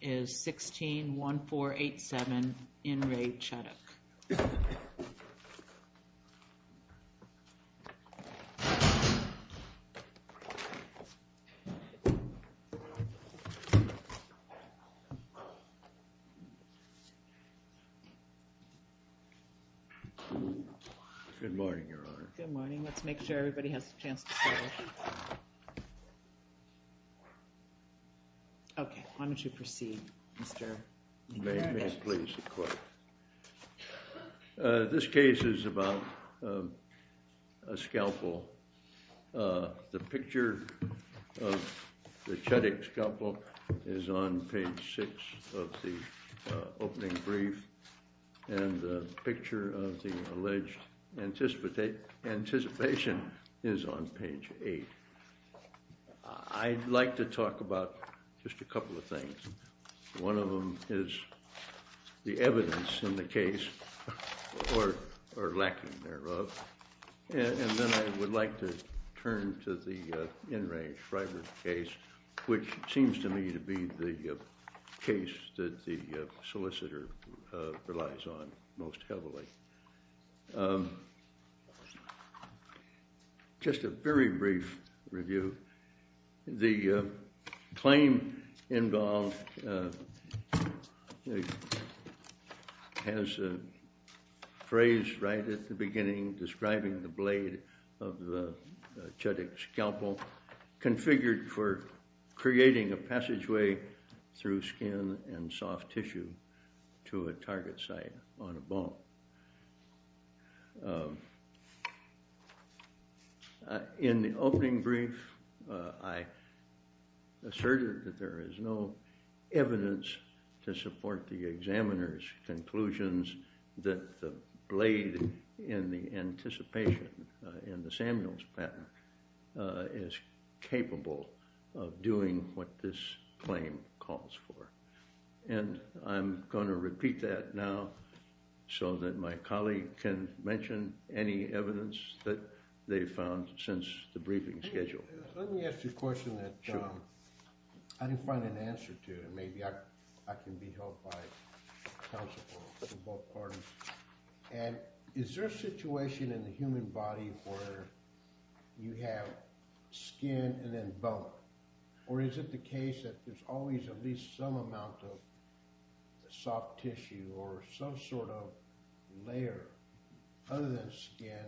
is 161487 in Re Chudik. Good morning, Your Honor. Good morning. Let's make sure everybody has a chance to say their name. Okay, why don't you proceed, Mr. McFerrin. May I please, Your Honor? This case is about a scalpel. The picture of the Chudik scalpel is on page 6 of the opening brief, and the picture of the alleged anticipation is on page 8. I'd like to talk about just a couple of things. One of them is the evidence in the case, or lacking thereof. And then I would like to turn to the In Re Schreiber case, which seems to me to be the case that the solicitor relies on most heavily. Just a very brief review. The claim involved has a phrase right at the beginning describing the blade of the Chudik scalpel, configured for creating a passageway through skin and soft tissue to a target site on a bone. In the opening brief, I asserted that there is no evidence to support the examiner's conclusions that the blade in the anticipation in the Samuels pattern is capable of doing what this claim calls for. And I'm going to repeat that now so that my colleague can mention any evidence that they've found since the briefing schedule. Let me ask you a question that I didn't find an answer to, and maybe I can be helped by counsel from both parties. And is there a situation in the human body where you have skin and then bone? Or is it the case that there's always at least some amount of soft tissue or some sort of layer other than skin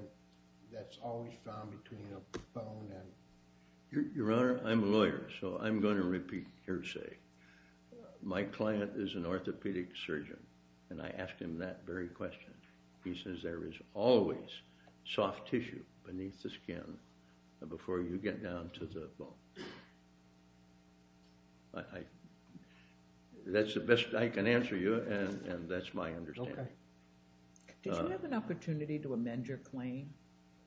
that's always found between a bone and? Your Honor, I'm a lawyer, so I'm going to repeat hearsay. My client is an orthopedic surgeon, and I asked him that very question. He says there is always soft tissue beneath the skin before you get down to the bone. That's the best I can answer you, and that's my understanding. Did you have an opportunity to amend your claim?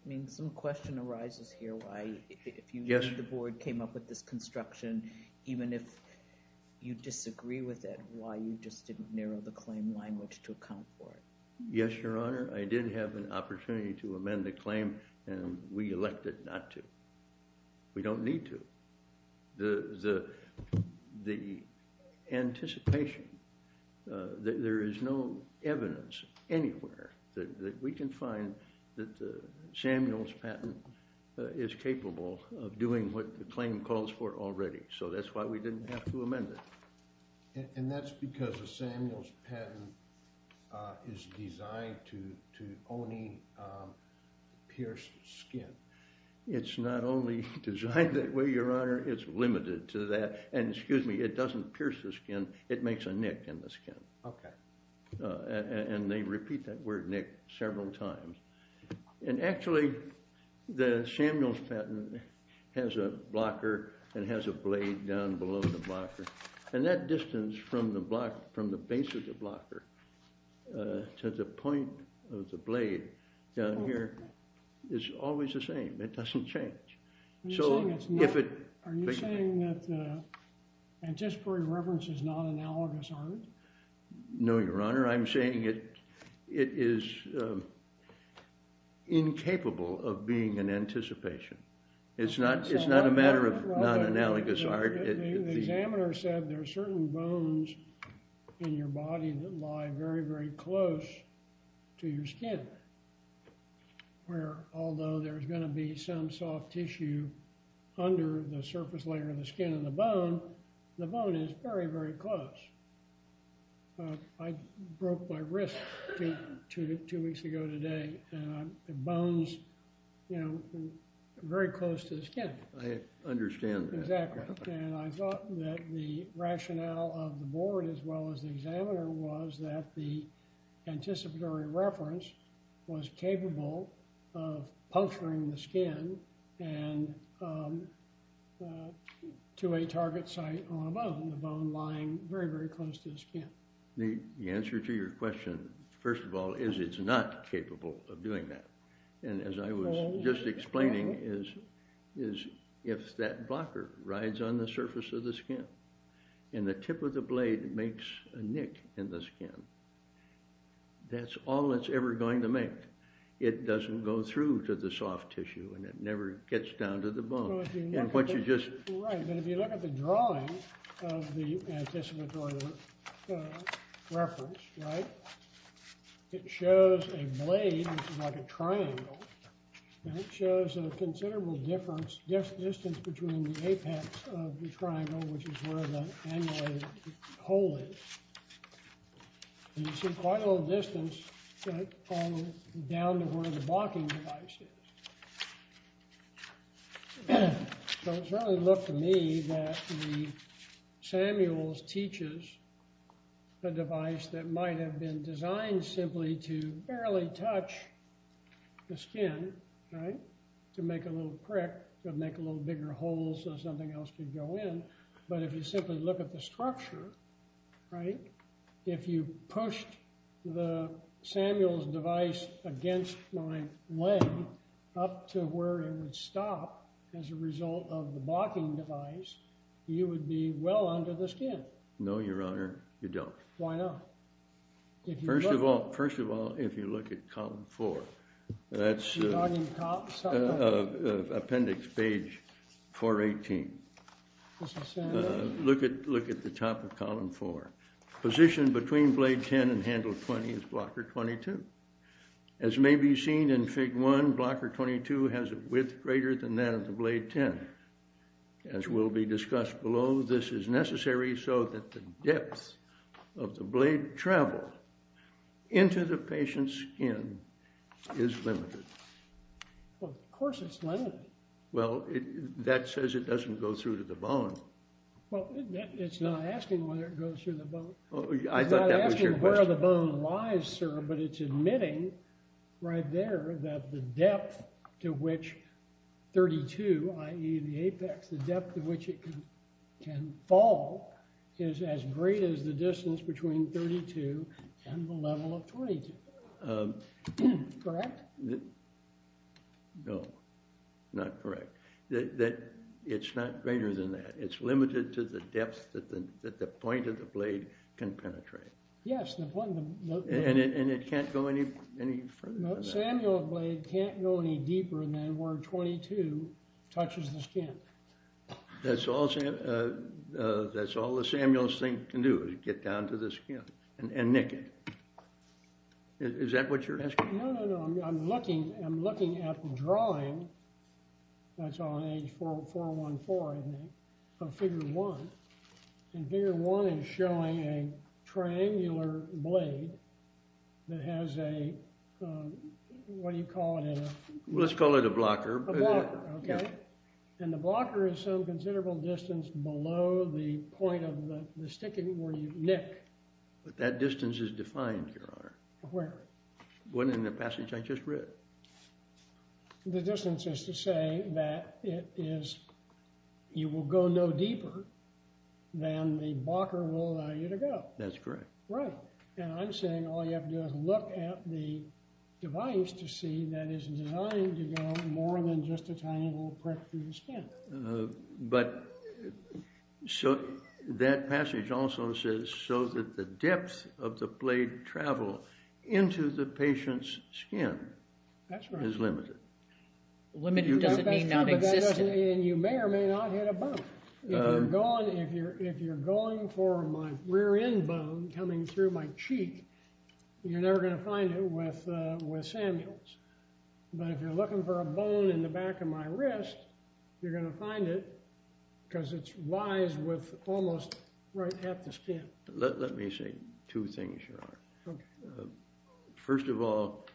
I mean, some question arises here why, if you think the board came up with this construction, even if you disagree with it, why you just didn't narrow the claim language to account for it. Yes, Your Honor, I did have an opportunity to amend the claim, and we elected not to. We don't need to. The anticipation that there is no evidence anywhere that we can find that the Samuels patent is capable of doing what the claim calls for already. So that's why we didn't have to amend it. And that's because the Samuels patent is designed to only pierce skin. It's not only designed that way, Your Honor, it's limited to that. And excuse me, it doesn't pierce the skin, it makes a nick in the skin. And they repeat that word, nick, several times. And actually, the Samuels patent has a blocker and has a blade down below the blocker. And that distance from the base of the blocker to the point of the blade down here is always the same. It doesn't change. Are you saying that anticipatory reference is non-analogous art? No, Your Honor, I'm saying it is incapable of being an anticipation. It's not a matter of non-analogous art. The examiner said there are certain bones in your body that lie very, very close to your skin. Where although there's going to be some soft tissue under the surface layer of the skin and the bone, the bone is very, very close. I broke my wrist two weeks ago today, and the bones, you know, are very close to the skin. I understand that. Exactly. And I thought that the rationale of the board as well as the examiner was that the anticipatory reference was capable of puncturing the skin and to a target site on a bone, the bone lying very, very close to the skin. The answer to your question, first of all, is it's not capable of doing that. And as I was just explaining, is if that blocker rides on the surface of the skin and the tip of the blade makes a nick in the skin, that's all it's ever going to make. It doesn't go through to the soft tissue, and it never gets down to the bone. Right, but if you look at the drawing of the anticipatory reference, right, it shows a blade like a triangle, and it shows a considerable distance between the apex of the triangle, which is where the annulated hole is. And you see quite a little distance down to where the blocking device is. So it certainly looked to me that the Samuels teaches a device that might have been designed simply to barely touch the skin, right, to make a little prick, to make a little bigger hole so something else could go in. But if you simply look at the structure, right, if you pushed the Samuels device against my leg up to where it would stop as a result of the blocking device, you would be well under the skin. No, Your Honor, you don't. Why not? First of all, first of all, if you look at column four, that's appendix page 418. Look at the top of column four. Position between blade 10 and handle 20 is blocker 22. As may be seen in Fig. 1, blocker 22 has a width greater than that of the blade 10. As will be discussed below, this is necessary so that the depth of the blade travel into the patient's skin is limited. Well, of course it's limited. Well, that says it doesn't go through to the bone. Well, it's not asking whether it goes through the bone. I thought that was your question. It's not asking where the bone lies, sir, but it's admitting right there that the depth to which 32, i.e., the apex, the depth to which it can fall is as great as the distance between 32 and the level of 22. Correct? No, not correct. It's not greater than that. It's limited to the depth that the point of the blade can penetrate. Yes, the point of the blade. And it can't go any further than that. No, Samuel's blade can't go any deeper than where 22 touches the skin. That's all the Samuel's thing can do is get down to the skin and nick it. Is that what you're asking? No, no, no. I'm looking at the drawing. That's on page 414, I think, of Figure 1. And Figure 1 is showing a triangular blade that has a, what do you call it? Let's call it a blocker. A blocker, okay. And the blocker is some considerable distance below the point of the sticking where you nick. But that distance is defined, Your Honor. Where? What in the passage I just read. The distance is to say that it is, you will go no deeper than the blocker will allow you to go. That's correct. Right. And I'm saying all you have to do is look at the device to see that it's designed to go more than just a tiny little prick through the skin. But that passage also says so that the depth of the blade travel into the patient's skin is limited. Limited doesn't mean nonexistent. And you may or may not hit a bone. If you're going for my rear end bone coming through my cheek, you're never going to find it with Samuel's. But if you're looking for a bone in the back of my wrist, you're going to find it because it's wise with almost right at the skin. Let me say two things, Your Honor. Okay. First of all,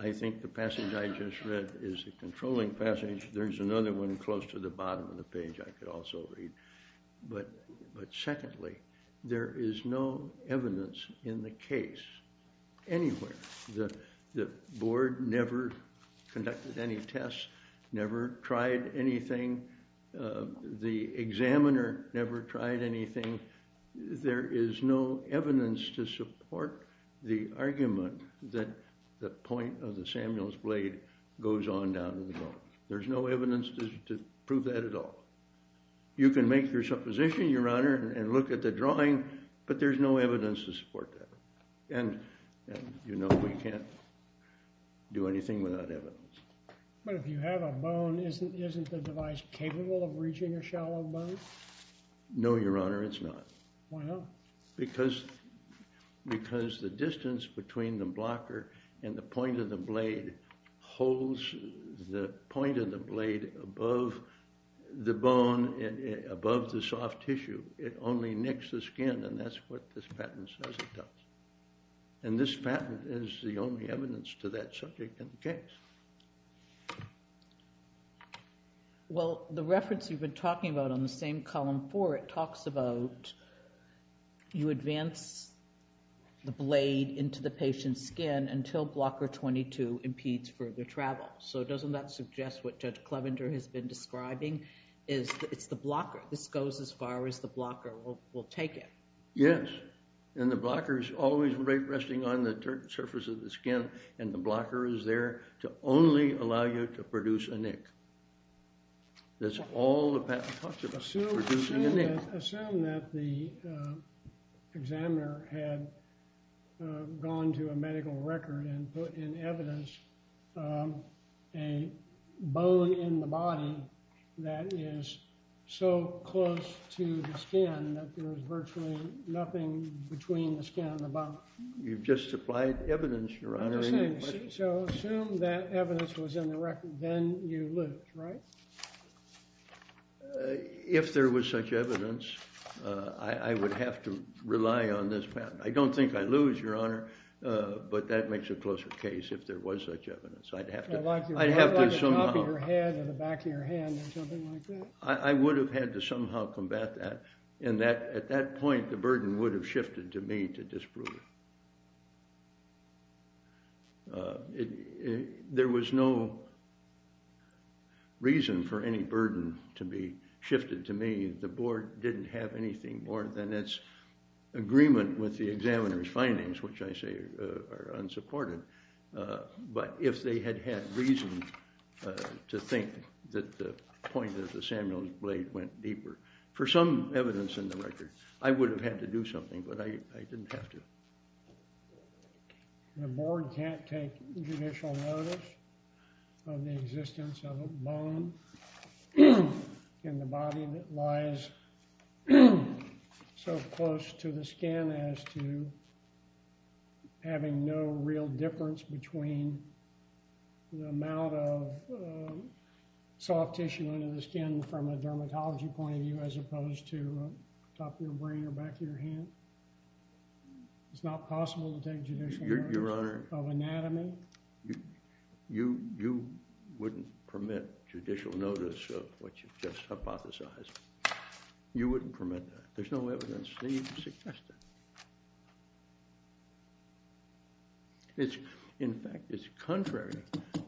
I think the passage I just read is a controlling passage. There's another one close to the bottom of the page I could also read. But secondly, there is no evidence in the case anywhere that the board never conducted any tests, never tried anything. The examiner never tried anything. There is no evidence to support the argument that the point of the Samuel's blade goes on down to the bone. There's no evidence to prove that at all. You can make your supposition, Your Honor, and look at the drawing, but there's no evidence to support that. And you know we can't do anything without evidence. But if you have a bone, isn't the device capable of reaching a shallow bone? No, Your Honor, it's not. Why not? Because the distance between the blocker and the point of the blade holds the point of the blade above the bone, above the soft tissue. It only nicks the skin, and that's what this patent says it does. And this patent is the only evidence to that subject in the case. Well, the reference you've been talking about on the same column four, it talks about you advance the blade into the patient's skin until blocker 22 impedes further travel. So doesn't that suggest what Judge Clevender has been describing? It's the blocker. This goes as far as the blocker will take it. Yes. And the blocker is always resting on the surface of the skin, and the blocker is there to only allow you to produce a nick. That's all the patent talks about, producing a nick. Assume that the examiner had gone to a medical record and put in evidence a bone in the body that is so close to the skin that there is virtually nothing between the skin and the body. You've just supplied evidence, Your Honor. So assume that evidence was in the record. Then you lose, right? If there was such evidence, I would have to rely on this patent. I don't think I'd lose, Your Honor. But that makes a closer case if there was such evidence. I'd have to somehow. Like the top of your head or the back of your hand or something like that? I would have had to somehow combat that. And at that point, the burden would have shifted to me to disprove it. There was no reason for any burden to be shifted to me. The board didn't have anything more than its agreement with the examiner's findings, which I say are unsupported. But if they had had reason to think that the point of the Samuel's blade went deeper, for some evidence in the record, I would have had to do something. But I didn't have to. The board can't take judicial notice of the existence of a bone in the body that lies so close to the skin as to having no real difference between the amount of soft tissue under the skin from a dermatology point of view as opposed to the top of your brain or back of your hand. It's not possible to take judicial notice of anatomy. You wouldn't permit judicial notice of what you've just hypothesized. You wouldn't permit that. There's no evidence to suggest that. In fact, it's contrary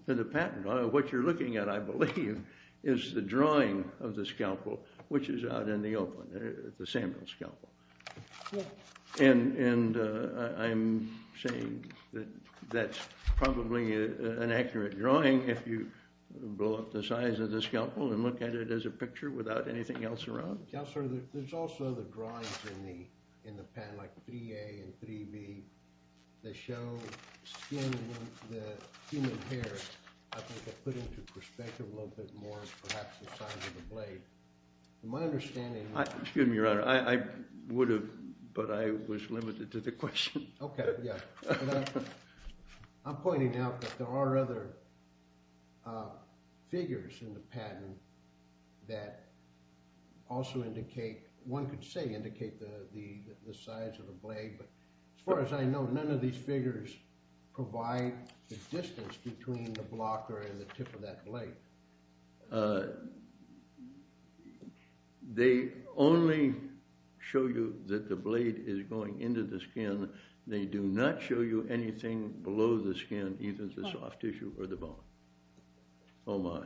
to the patent. What you're looking at, I believe, is the drawing of the scalpel, which is out in the open, the Samuel scalpel. And I'm saying that that's probably an accurate drawing if you blow up the size of the scalpel and look at it as a picture without anything else around. Counselor, there's also the drawings in the patent, like 3A and 3B, that show skin and the human hair, I think, are put into perspective a little bit more, perhaps the size of the blade. My understanding is that— Excuse me, Your Honor. I would have, but I was limited to the question. OK, yeah. I'm pointing out that there are other figures in the patent that also indicate—one could say indicate the size of the blade. But as far as I know, none of these figures provide the distance between the blocker and the tip of that blade. They only show you that the blade is going into the skin. They do not show you anything below the skin, either the soft tissue or the bone. Oh, my.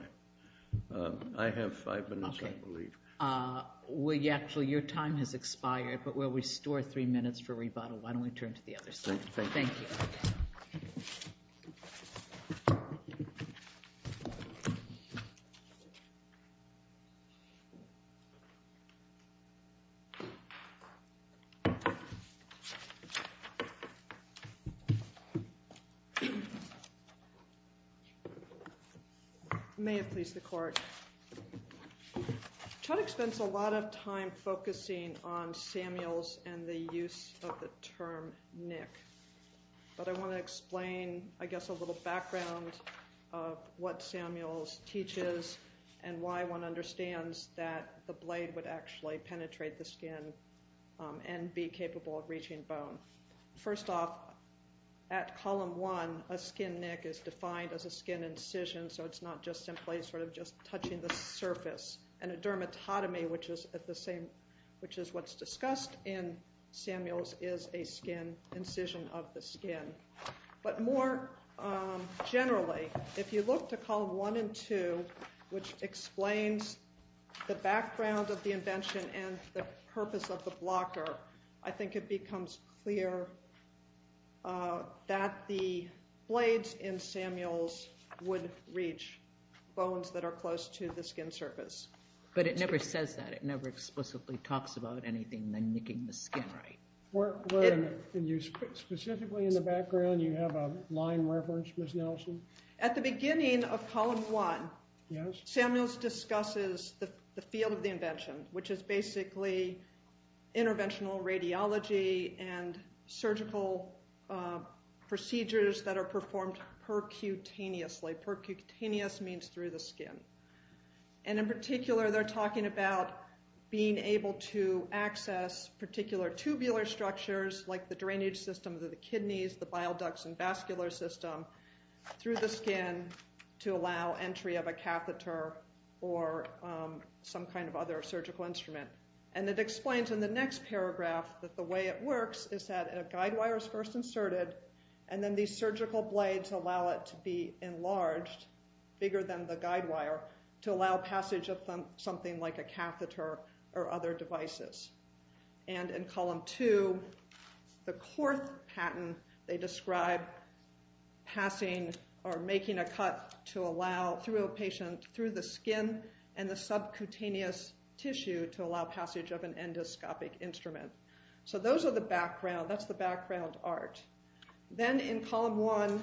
I have five minutes, I believe. Well, actually, your time has expired, but we'll restore three minutes for rebuttal. Why don't we turn to the other side? Thank you. Thank you. Thank you. May it please the Court. Chodak spends a lot of time focusing on Samuels and the use of the term nick. But I want to explain, I guess, a little background of what Samuels teaches and why one understands that the blade would actually penetrate the skin and be capable of reaching bone. First off, at column one, a skin nick is defined as a skin incision, so it's not just simply sort of just touching the surface. And a dermatotomy, which is what's discussed in Samuels, is a skin incision of the skin. But more generally, if you look to column one and two, which explains the background of the invention and the purpose of the blocker, I think it becomes clear that the blades in Samuels would reach bones that are close to the skin surface. But it never says that. It never explicitly talks about anything than nicking the skin, right? Specifically in the background, you have a line reference, Ms. Nelson? At the beginning of column one, Samuels discusses the field of the invention, which is basically interventional radiology and surgical procedures that are performed percutaneously. Percutaneous means through the skin. And in particular, they're talking about being able to access particular tubular structures, like the drainage system of the kidneys, the bile ducts and vascular system, through the skin to allow entry of a catheter or some kind of other surgical instrument. And it explains in the next paragraph that the way it works is that a guide wire is first inserted, and then these surgical blades allow it to be enlarged, bigger than the guide wire, to allow passage of something like a catheter or other devices. And in column two, the corth patent, they describe passing or making a cut to allow, through a patient, through the skin and the subcutaneous tissue to allow passage of an endoscopic instrument. So those are the background. That's the background art. Then in column one,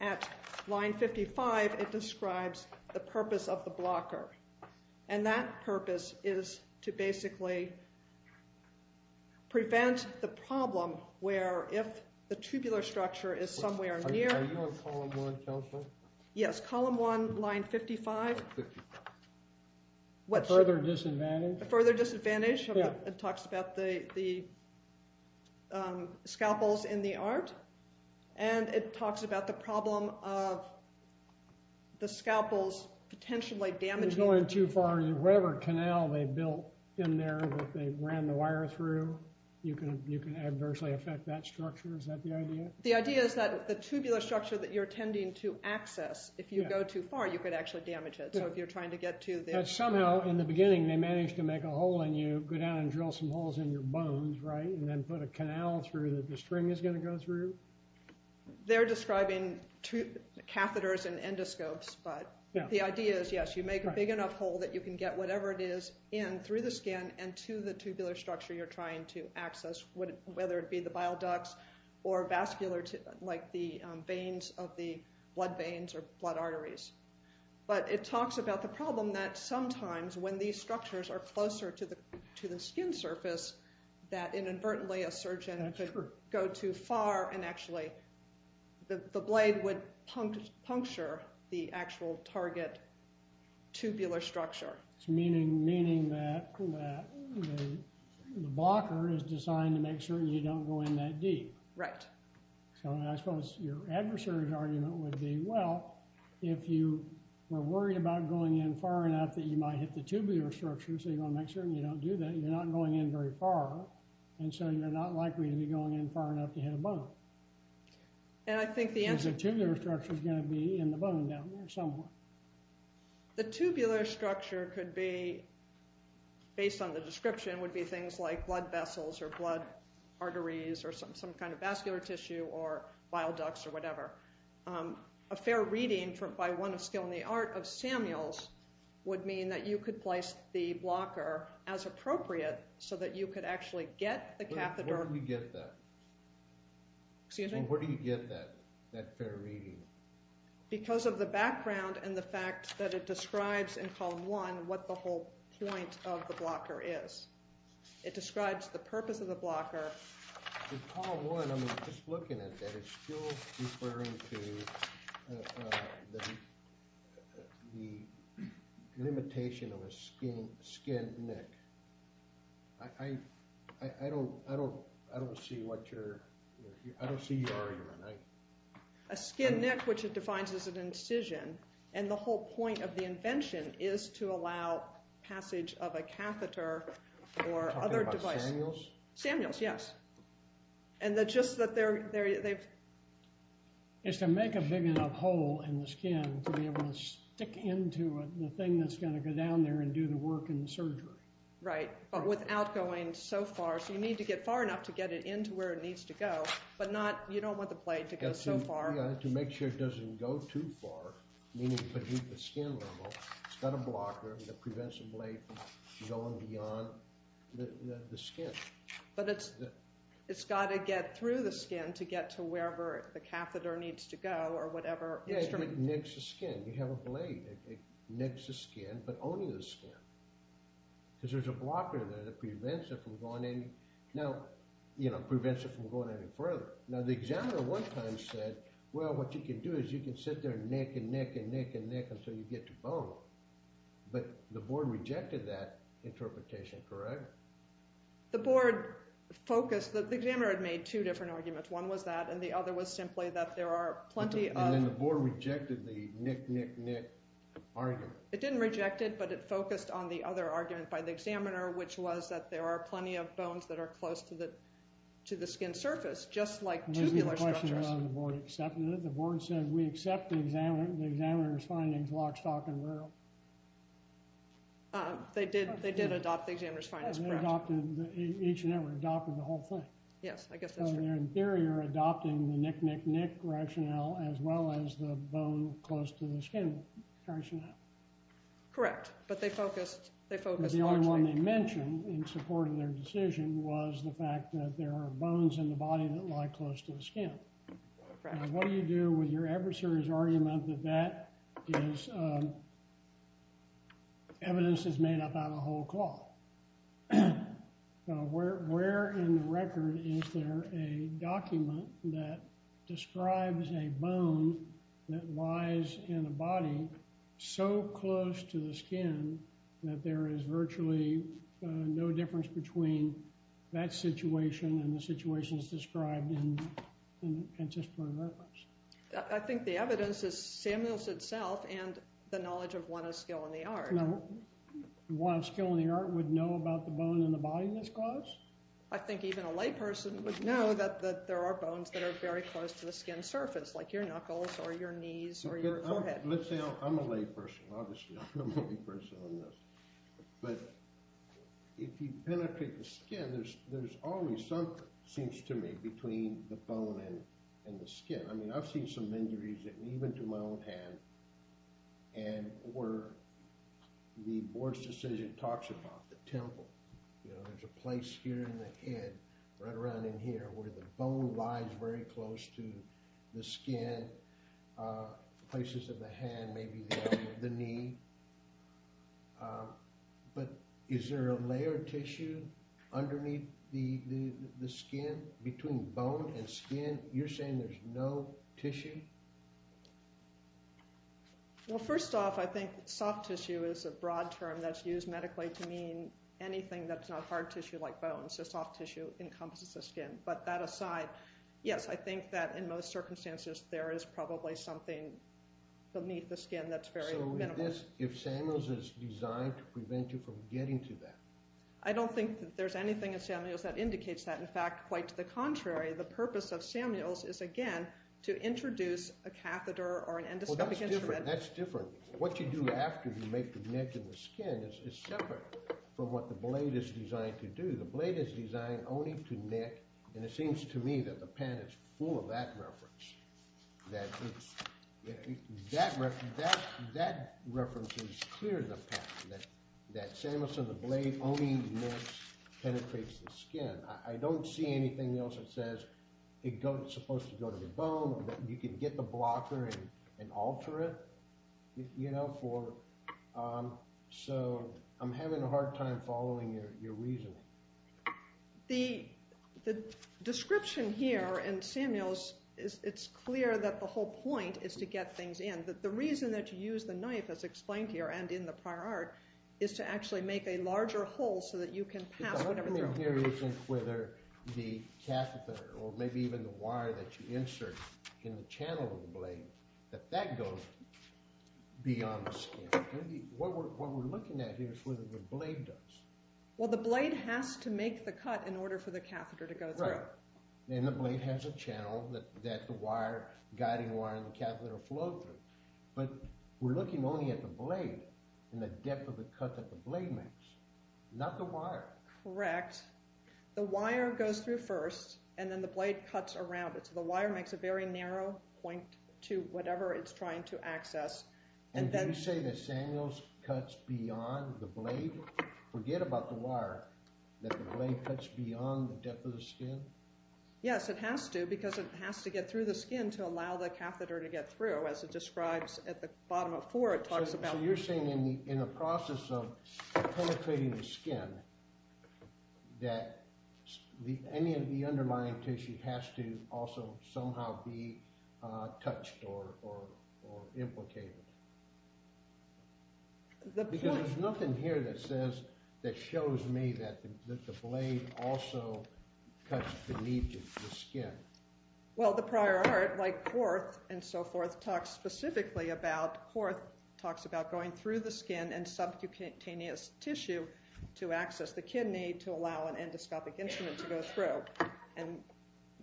at line 55, it describes the purpose of the blocker. And that purpose is to basically prevent the problem where if the tubular structure is somewhere near... Are you on column one, Dr. Nelson? Yes, column one, line 55. Further disadvantage? Further disadvantage. It talks about the scalpels in the art. And it talks about the problem of the scalpels potentially damaging... If you're going too far, whatever canal they built in there that they ran the wire through, you can adversely affect that structure. Is that the idea? The idea is that the tubular structure that you're tending to access, if you go too far, you could actually damage it. So if you're trying to get to the... Somehow, in the beginning, they managed to make a hole in you, go down and drill some holes in your bones, right? And then put a canal through that the string is going to go through? They're describing catheters and endoscopes. But the idea is, yes, you make a big enough hole that you can get whatever it is in through the skin and to the tubular structure you're trying to access, whether it be the bile ducts or vascular, like the veins of the blood veins or blood arteries. But it talks about the problem that sometimes when these structures are closer to the skin surface, that inadvertently a surgeon could go too far and actually the blade would puncture the actual target tubular structure. Meaning that the blocker is designed to make sure you don't go in that deep. Right. So I suppose your adversary's argument would be, well, if you were worried about going in far enough that you might hit the tubular structure, so you want to make sure you don't do that, you're not going in very far. And so you're not likely to be going in far enough to hit a bone. And I think the answer... Because the tubular structure is going to be in the bone down there somewhere. The tubular structure could be, based on the description, would be things like blood vessels or blood arteries or some kind of vascular tissue or bile ducts or whatever. A fair reading by one of skill in the art of Samuels would mean that you could place the blocker as appropriate so that you could actually get the catheter... Where do you get that? Excuse me? Where do you get that fair reading? Because of the background and the fact that it describes in column one what the whole point of the blocker is. It describes the purpose of the blocker. In column one, I'm just looking at that, it's still referring to the limitation of a skinned neck. I don't see what you're... I don't see your argument. A skinned neck, which it defines as an incision. And the whole point of the invention is to allow passage of a catheter or other device. Are you talking about Samuels? Samuels, yes. And just that they're... It's to make a big enough hole in the skin to be able to stick into the thing that's going to go down there and do the work and the surgery. Right. But without going so far. So you need to get far enough to get it into where it needs to go, but you don't want the blade to go so far. Yeah, to make sure it doesn't go too far, meaning beneath the skin level. It's got a blocker that prevents the blade from going beyond the skin. But it's got to get through the skin to get to wherever the catheter needs to go or whatever instrument. Yeah, it nicks the skin. You have a blade. It nicks the skin, but only the skin. Because there's a blocker there that prevents it from going any further. Now, the examiner at one time said, well, what you can do is you can sit there and nick and nick and nick and nick until you get to bone. But the board rejected that interpretation, correct? The board focused. The examiner had made two different arguments. One was that, and the other was simply that there are plenty of... And then the board rejected the nick, nick, nick argument. It didn't reject it, but it focused on the other argument by the examiner, which was that there are plenty of bones that are close to the skin surface, just like tubular structures. Maybe the question is whether the board accepted it. The board said, we accept the examiner's findings, lock, stock, and rail. They did adopt the examiner's findings, correct. They adopted each and every, adopted the whole thing. Yes, I guess that's true. So in theory, you're adopting the nick, nick, nick rationale as well as the bone close to the skin rationale. Correct, but they focused largely... The only one they mentioned in support of their decision was the fact that there are bones in the body that lie close to the skin. Correct. And what do you do with your adversary's argument that that is evidence that's made up out of a whole cloth? Where in the record is there a document that describes a bone that lies in a body so close to the skin that there is virtually no difference between that situation and the situations described in the Penn System of Records? I think the evidence is Samuels itself and the knowledge of one of skill in the art. One of skill in the art would know about the bone in the body in this clause? I think even a layperson would know that there are bones that are very close to the skin surface, like your knuckles or your knees or your forehead. Let's say I'm a layperson, obviously. I'm a layperson on this. But if you penetrate the skin, there's always something, it seems to me, between the bone and the skin. I mean, I've seen some injuries even to my own hand. And where the board's decision talks about the temple, you know, there's a place here in the head, right around in here where the bone lies very close to the skin, places of the hand, maybe the knee. But is there a layer of tissue underneath the skin between bone and skin? You're saying there's no tissue? Well, first off, I think soft tissue is a broad term that's used medically to mean anything that's not hard tissue like bones. So soft tissue encompasses the skin. But that aside, yes, I think that in most circumstances there is probably something beneath the skin that's very minimal. Would you apply this if Samuels is designed to prevent you from getting to that? I don't think that there's anything in Samuels that indicates that. In fact, quite to the contrary, the purpose of Samuels is, again, to introduce a catheter or an endoscopic instrument. Well, that's different. What you do after you make the neck and the skin is separate from what the blade is designed to do. The blade is designed only to neck, and it seems to me that the pen is full of that reference. That reference is clear in the patent, that Samuels on the blade only penetrates the skin. I don't see anything else that says it's supposed to go to the bone. You can get the blocker and alter it, you know. So I'm having a hard time following your reasoning. The description here in Samuels, it's clear that the whole point is to get things in. The reason that you use the knife, as explained here and in the prior art, is to actually make a larger hole so that you can pass whatever through. The problem here isn't whether the catheter or maybe even the wire that you insert in the channel of the blade, that that goes beyond the skin. What we're looking at here is whether the blade does. Well, the blade has to make the cut in order for the catheter to go through. And the blade has a channel that the guiding wire and the catheter flow through. But we're looking only at the blade and the depth of the cut that the blade makes, not the wire. Correct. The wire goes through first, and then the blade cuts around it. So the wire makes a very narrow point to whatever it's trying to access. And did you say that Samuels cuts beyond the blade? Forget about the wire, that the blade cuts beyond the depth of the skin? Yes, it has to, because it has to get through the skin to allow the catheter to get through, as it describes at the bottom of four, it talks about. So you're saying in the process of penetrating the skin that any of the underlying tissue has to also somehow be touched or implicated? Because there's nothing here that says, that shows me that the blade also cuts beneath the skin. Well, the prior art, like Horth and so forth, talks specifically about, Horth talks about going through the skin and subcutaneous tissue to access the kidney to allow an endoscopic instrument to go through. And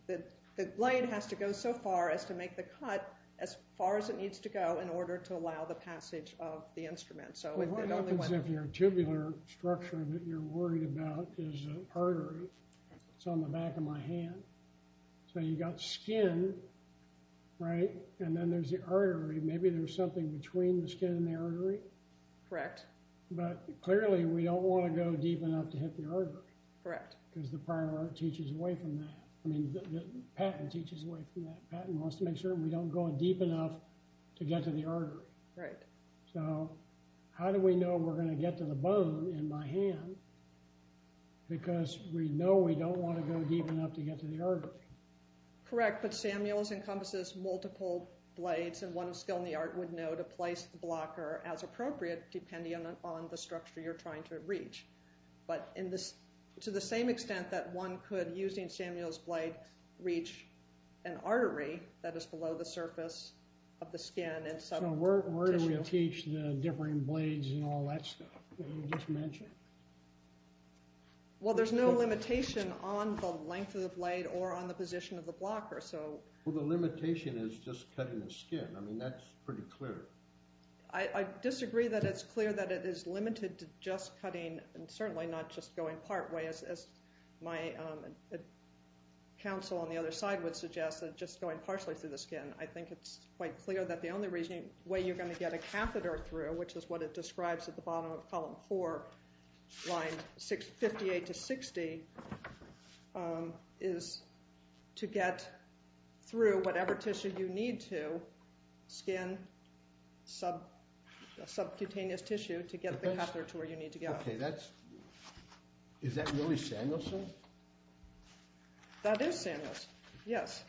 the blade has to go so far as to make the cut as far as it needs to go in order to allow the passage of the instrument. What happens if your tubular structure that you're worried about is an artery? It's on the back of my hand. So you got skin, right? And then there's the artery. Maybe there's something between the skin and the artery? Correct. But clearly, we don't want to go deep enough to hit the artery. Correct. Because the prior art teaches away from that. I mean, Patton teaches away from that. Patton wants to make sure we don't go deep enough to get to the artery. Right. So how do we know we're going to get to the bone in my hand? Because we know we don't want to go deep enough to get to the artery. Correct. But Samuels encompasses multiple blades, and one of skill in the art would know to place the blocker as appropriate, depending on the structure you're trying to reach. But to the same extent that one could, using Samuel's blade, reach an artery that is below the surface of the skin and subcutaneous tissue. Where do we teach the differing blades and all that stuff that you just mentioned? Well, there's no limitation on the length of the blade or on the position of the blocker. Well, the limitation is just cutting the skin. I mean, that's pretty clear. I disagree that it's clear that it is limited to just cutting, and certainly not just going partway, as my counsel on the other side would suggest, just going partially through the skin. I think it's quite clear that the only way you're going to get a catheter through, which is what it describes at the bottom of column 4, lines 58 to 60, is to get through whatever tissue you need to, skin, subcutaneous tissue, to get the catheter to where you need to go. Okay, that's – is that really Samuels' thing? That is Samuels', yes.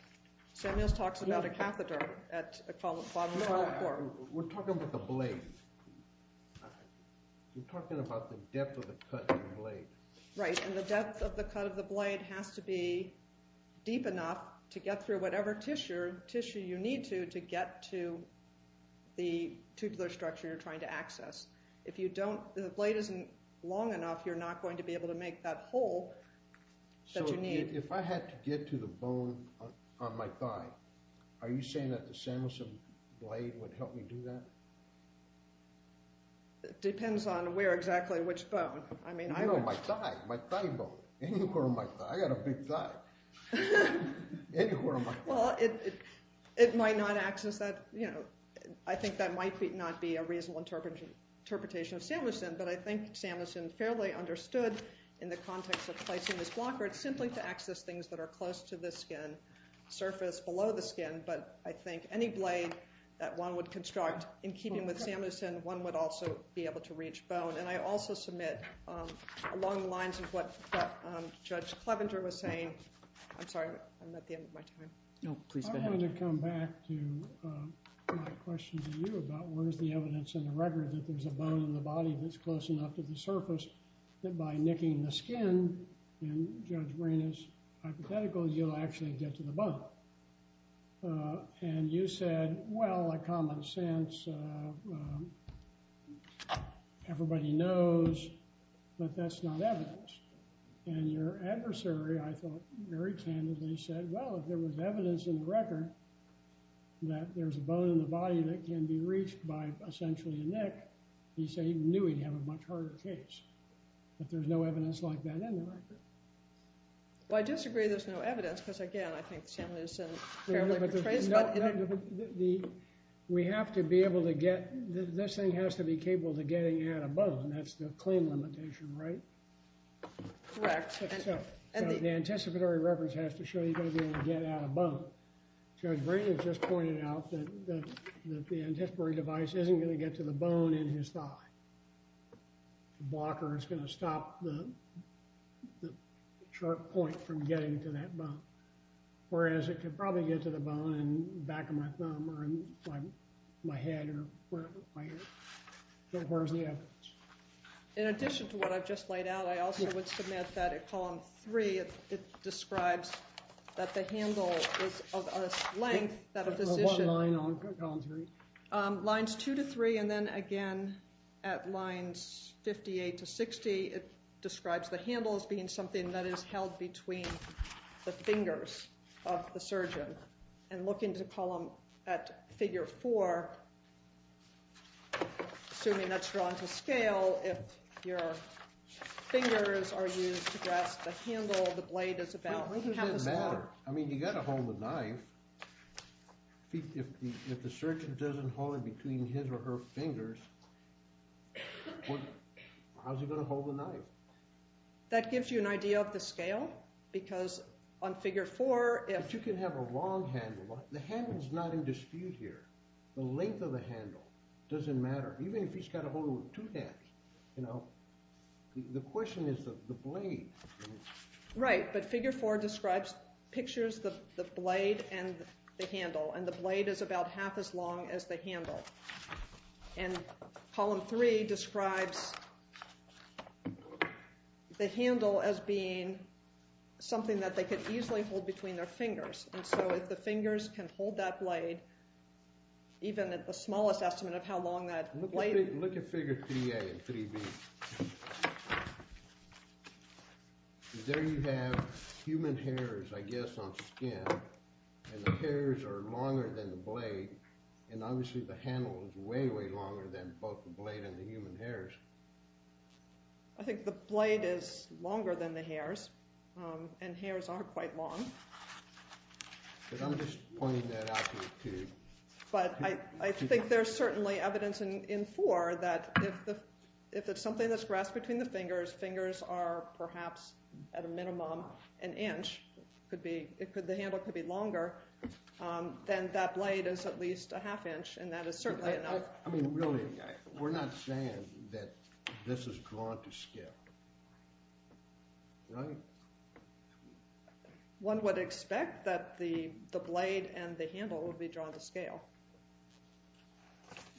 Samuels' talks about a catheter at the bottom of column 4. No, we're talking about the blade. We're talking about the depth of the cut of the blade. Right, and the depth of the cut of the blade has to be deep enough to get through whatever tissue you need to to get to the tubular structure you're trying to access. If you don't – if the blade isn't long enough, you're not going to be able to make that hole that you need. So if I had to get to the bone on my thigh, are you saying that the Samuels' blade would help me do that? It depends on where exactly, which bone. I mean, I would – No, my thigh, my thigh bone. Anywhere on my thigh. I got a big thigh. Anywhere on my thigh. Well, it might not access that – I think that might not be a reasonable interpretation of Samuels' thing, but I think Samuels' fairly understood in the context of placing this blocker. It's simply to access things that are close to the skin, surface, below the skin, but I think any blade that one would construct in keeping with Samuels' thing, one would also be able to reach bone. And I also submit along the lines of what Judge Clevenger was saying – I'm sorry, I'm at the end of my time. No, please go ahead. I wanted to come back to my question to you about where's the evidence in the record that there's a bone in the body that's close enough to the surface that by nicking the skin, and Judge Brain is hypothetical, you'll actually get to the bone. And you said, well, a common sense, everybody knows, but that's not evidence. And your adversary, I thought, very candidly said, well, if there was evidence in the record that there's a bone in the body that can be reached by essentially a nick, he knew he'd have a much harder case. But there's no evidence like that in the record. Well, I disagree there's no evidence because, again, I think Samuelson fairly portrays that. We have to be able to get – this thing has to be capable of getting at a bone. That's the claim limitation, right? Correct. So the anticipatory reference has to show you're going to be able to get at a bone. Judge Brain has just pointed out that the anticipatory device isn't going to get to the bone in his thigh. The blocker is going to stop the sharp point from getting to that bone. Whereas it could probably get to the bone in the back of my thumb or in my head or wherever. So where's the evidence? In addition to what I've just laid out, I also would submit that at column three it describes that the handle is of a length that a physician – What line on column three? Lines two to three and then again at lines 58 to 60 it describes the handle as being something that is held between the fingers of the surgeon. And looking to column – at figure four, assuming that's drawn to scale, if your fingers are used to grasp the handle, the blade is about – It doesn't matter. I mean, you've got to hold the knife. If the surgeon doesn't hold it between his or her fingers, how's he going to hold the knife? That gives you an idea of the scale because on figure four – But you can have a long handle. The handle's not in dispute here. The length of the handle doesn't matter, even if he's got to hold it with two hands. The question is the blade. Right, but figure four describes – pictures the blade and the handle, and the blade is about half as long as the handle. And column three describes the handle as being something that they could easily hold between their fingers. And so if the fingers can hold that blade, even at the smallest estimate of how long that blade – Look at figure 3A and 3B. There you have human hairs, I guess, on skin, and the hairs are longer than the blade. And obviously the handle is way, way longer than both the blade and the human hairs. I think the blade is longer than the hairs, and hairs are quite long. But I think there's certainly evidence in four that if it's something that's grasped between the fingers, fingers are perhaps at a minimum an inch. The handle could be longer. Then that blade is at least a half inch, and that is certainly enough. I mean, really, we're not saying that this is drawn to scale, right? One would expect that the blade and the handle would be drawn to scale.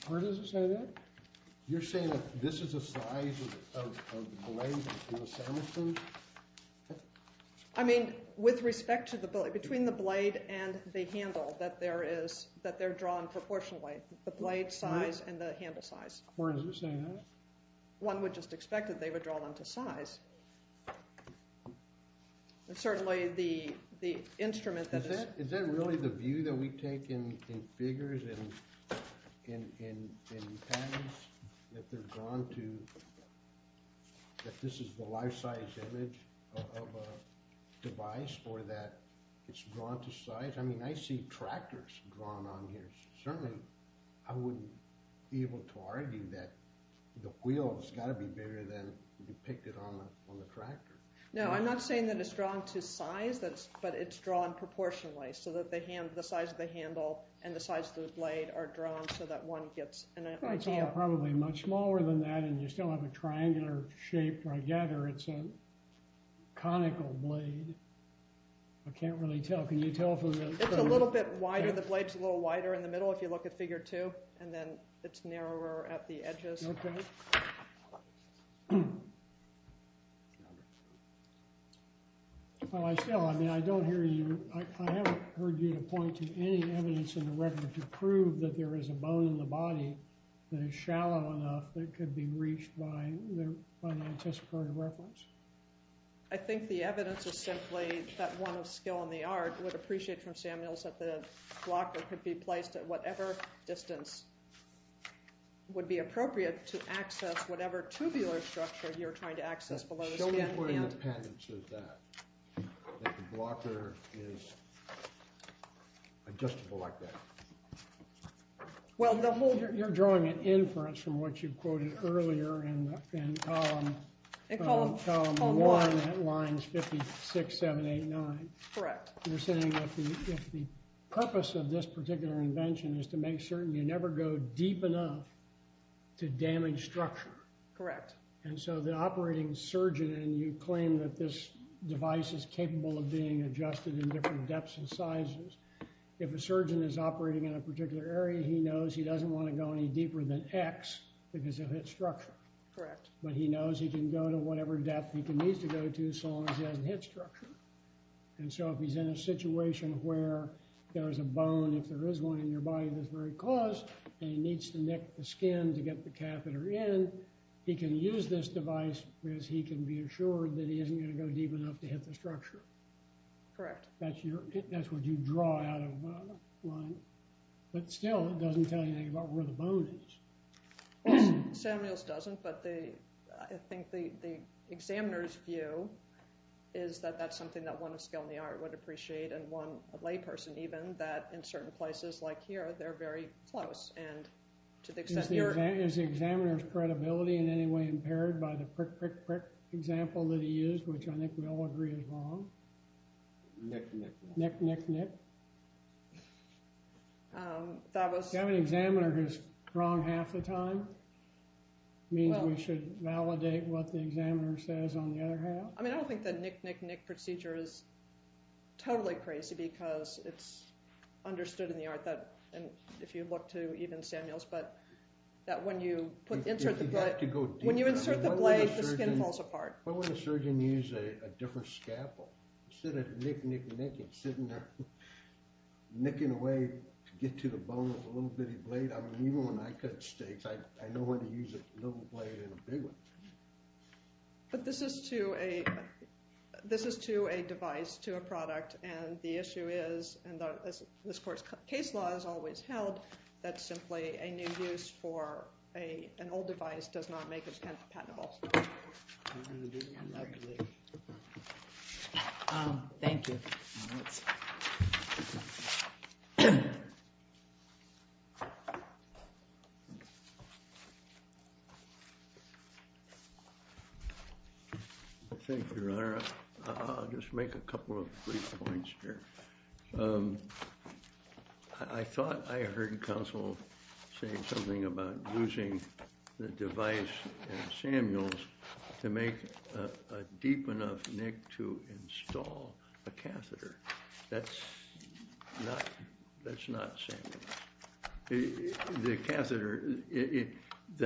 Where does it say that? You're saying that this is the size of the blade between the sandwiches? I mean, with respect to the blade – between the blade and the handle, that they're drawn proportionally, the blade size and the handle size. Where does it say that? One would just expect that they would draw them to size. And certainly the instrument that is – Is that really the view that we take in figures, in patents, that they're drawn to – that this is the life-size image of a device or that it's drawn to size? I mean, I see tractors drawn on here. Certainly, I wouldn't be able to argue that the wheel's got to be bigger than depicted on the tractor. No, I'm not saying that it's drawn to size, but it's drawn proportionally so that the size of the handle and the size of the blade are drawn so that one gets – It's all probably much smaller than that, and you still have a triangular shape. I gather it's a conical blade. I can't really tell. Can you tell from the – It's a little bit wider. The blade's a little wider in the middle if you look at figure two, and then it's narrower at the edges. Okay. Well, I still – I mean, I don't hear you – I haven't heard you point to any evidence in the record to prove that there is a bone in the body that is shallow enough that it could be reached by the anticipatory reference. I think the evidence is simply that one of skill in the art would appreciate from Sam Mills that the blocker could be placed at whatever distance would be appropriate to access whatever tubular structure you're trying to access below the skin. Show me where the patent says that, that the blocker is adjustable like that. Well, the whole – You're drawing an inference from what you quoted earlier in column one that lines 56, 7, 8, 9. Correct. You're saying that if the purpose of this particular invention is to make certain you never go deep enough to damage structure. Correct. And so the operating surgeon – and you claim that this device is capable of being adjusted in different depths and sizes. If a surgeon is operating in a particular area, he knows he doesn't want to go any deeper than X because it hits structure. Correct. But he knows he can go to whatever depth he needs to go to so long as he doesn't hit structure. And so if he's in a situation where there is a bone, if there is one in your body that's very close and he needs to nick the skin to get the catheter in, he can use this device because he can be assured that he isn't going to go deep enough to hit the structure. Correct. That's what you draw out of line. But still, it doesn't tell you anything about where the bone is. Well, Samuels doesn't, but I think the examiner's view is that that's something that one of skill in the art would appreciate and one layperson even that in certain places like here, they're very close. And to the extent you're – Is the examiner's credibility in any way impaired by the prick, prick, prick example that he used, which I think we all agree is wrong? Nick, nick, nick. Nick, nick, nick. That was – If you have an examiner who's wrong half the time, it means we should validate what the examiner says on the other half? I mean, I don't think the nick, nick, nick procedure is totally crazy because it's understood in the art that – and if you look to even Samuels, but that when you put – You have to go deeper. When you insert the blade, the skin falls apart. Why wouldn't a surgeon use a different scalpel? Instead of nick, nick, nick, it's sitting there, nicking away to get to the bone with a little bitty blade. I mean, even when I cut steaks, I know when to use a little blade and a big one. But this is to a – this is to a device, to a product, and the issue is, and as this court's case law has always held, that simply a new use for an old device does not make it compatible. We're going to do that later. Thank you. Thank you, Your Honor. I'll just make a couple of brief points here. I thought I heard counsel say something about using the device in Samuels to make a deep enough nick to install a catheter. That's not – that's not Samuels. The catheter –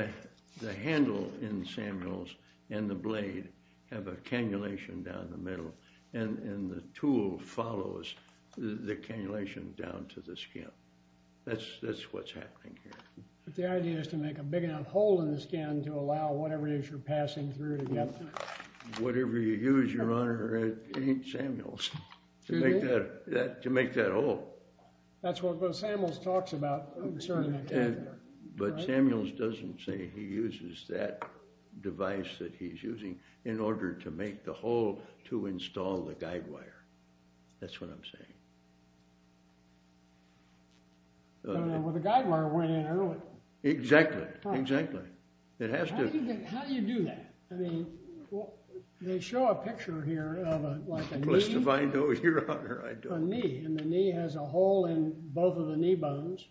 the handle in Samuels and the blade have a cannulation down the middle, and the tool follows the cannulation down to the skin. That's what's happening here. But the idea is to make a big enough hole in the skin to allow whatever it is you're passing through to get there. Whatever you use, Your Honor, it ain't Samuels to make that hole. That's what Samuels talks about concerning the catheter. But Samuels doesn't say he uses that device that he's using in order to make the hole to install the guide wire. That's what I'm saying. Well, the guide wire went in early. Exactly. Exactly. It has to – How do you do that? I mean, they show a picture here of a – like a knee. I know, Your Honor, I know. A knee, and the knee has a hole in both of the knee bones,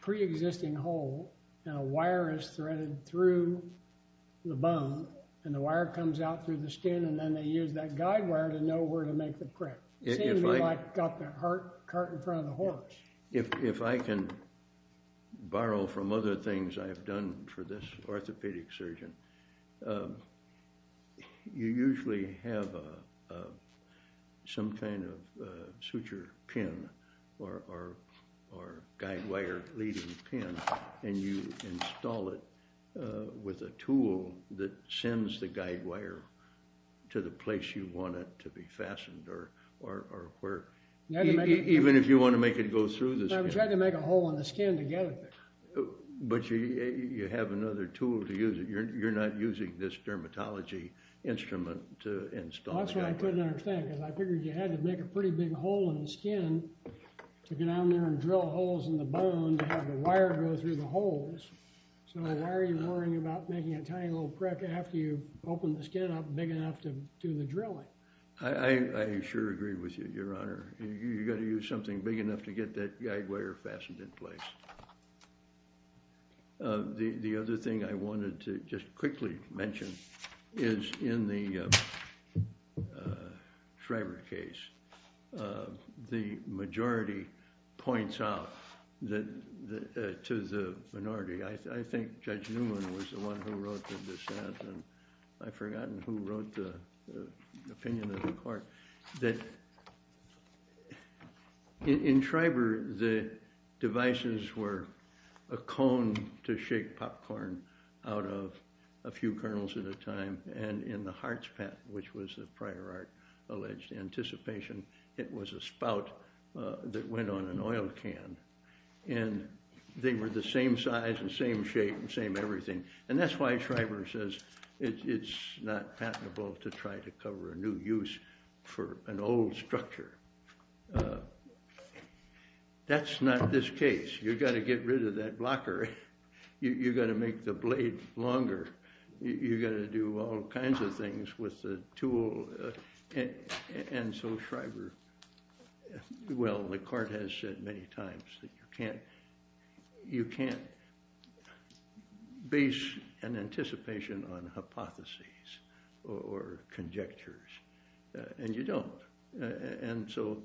pre-existing hole, and a wire is threaded through the bone, and the wire comes out through the skin, and then they use that guide wire to know where to make the crack. It seems to me like they got that cart in front of the horse. If I can borrow from other things I've done for this orthopedic surgeon, you usually have some kind of suture pin or guide wire leading pin, and you install it with a tool that sends the guide wire to the place you want it to be fastened or where. Even if you want to make it go through the skin. I'm trying to make a hole in the skin to get it there. But you have another tool to use. You're not using this dermatology instrument to install the guide wire. That's what I couldn't understand, because I figured you had to make a pretty big hole in the skin to go down there and drill holes in the bone to have the wire go through the holes. So why are you worrying about making a tiny little crack after you've opened the skin up big enough to do the drilling? I sure agree with you, Your Honor. You've got to use something big enough to get that guide wire fastened in place. The other thing I wanted to just quickly mention is in the Shriver case. The majority points out to the minority. I think Judge Newman was the one who wrote the dissent. I've forgotten who wrote the opinion of the court. In Shriver, the devices were a cone to shake popcorn out of a few kernels at a time. And in the HartzPak, which was the prior art alleged anticipation, it was a spout that went on an oil can. And they were the same size and same shape and same everything. And that's why Shriver says it's not patentable to try to cover a new use for an old structure. That's not this case. You've got to get rid of that blocker. You've got to make the blade longer. You've got to do all kinds of things with the tool. And so Shriver, well, the court has said many times that you can't base an anticipation on hypotheses or conjectures. And you don't. And so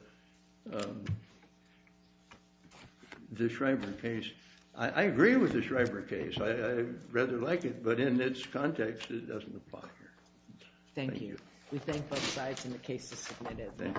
the Shriver case, I agree with the Shriver case. I rather like it. But in its context, it doesn't apply here. Thank you. We thank both sides and the case is submitted.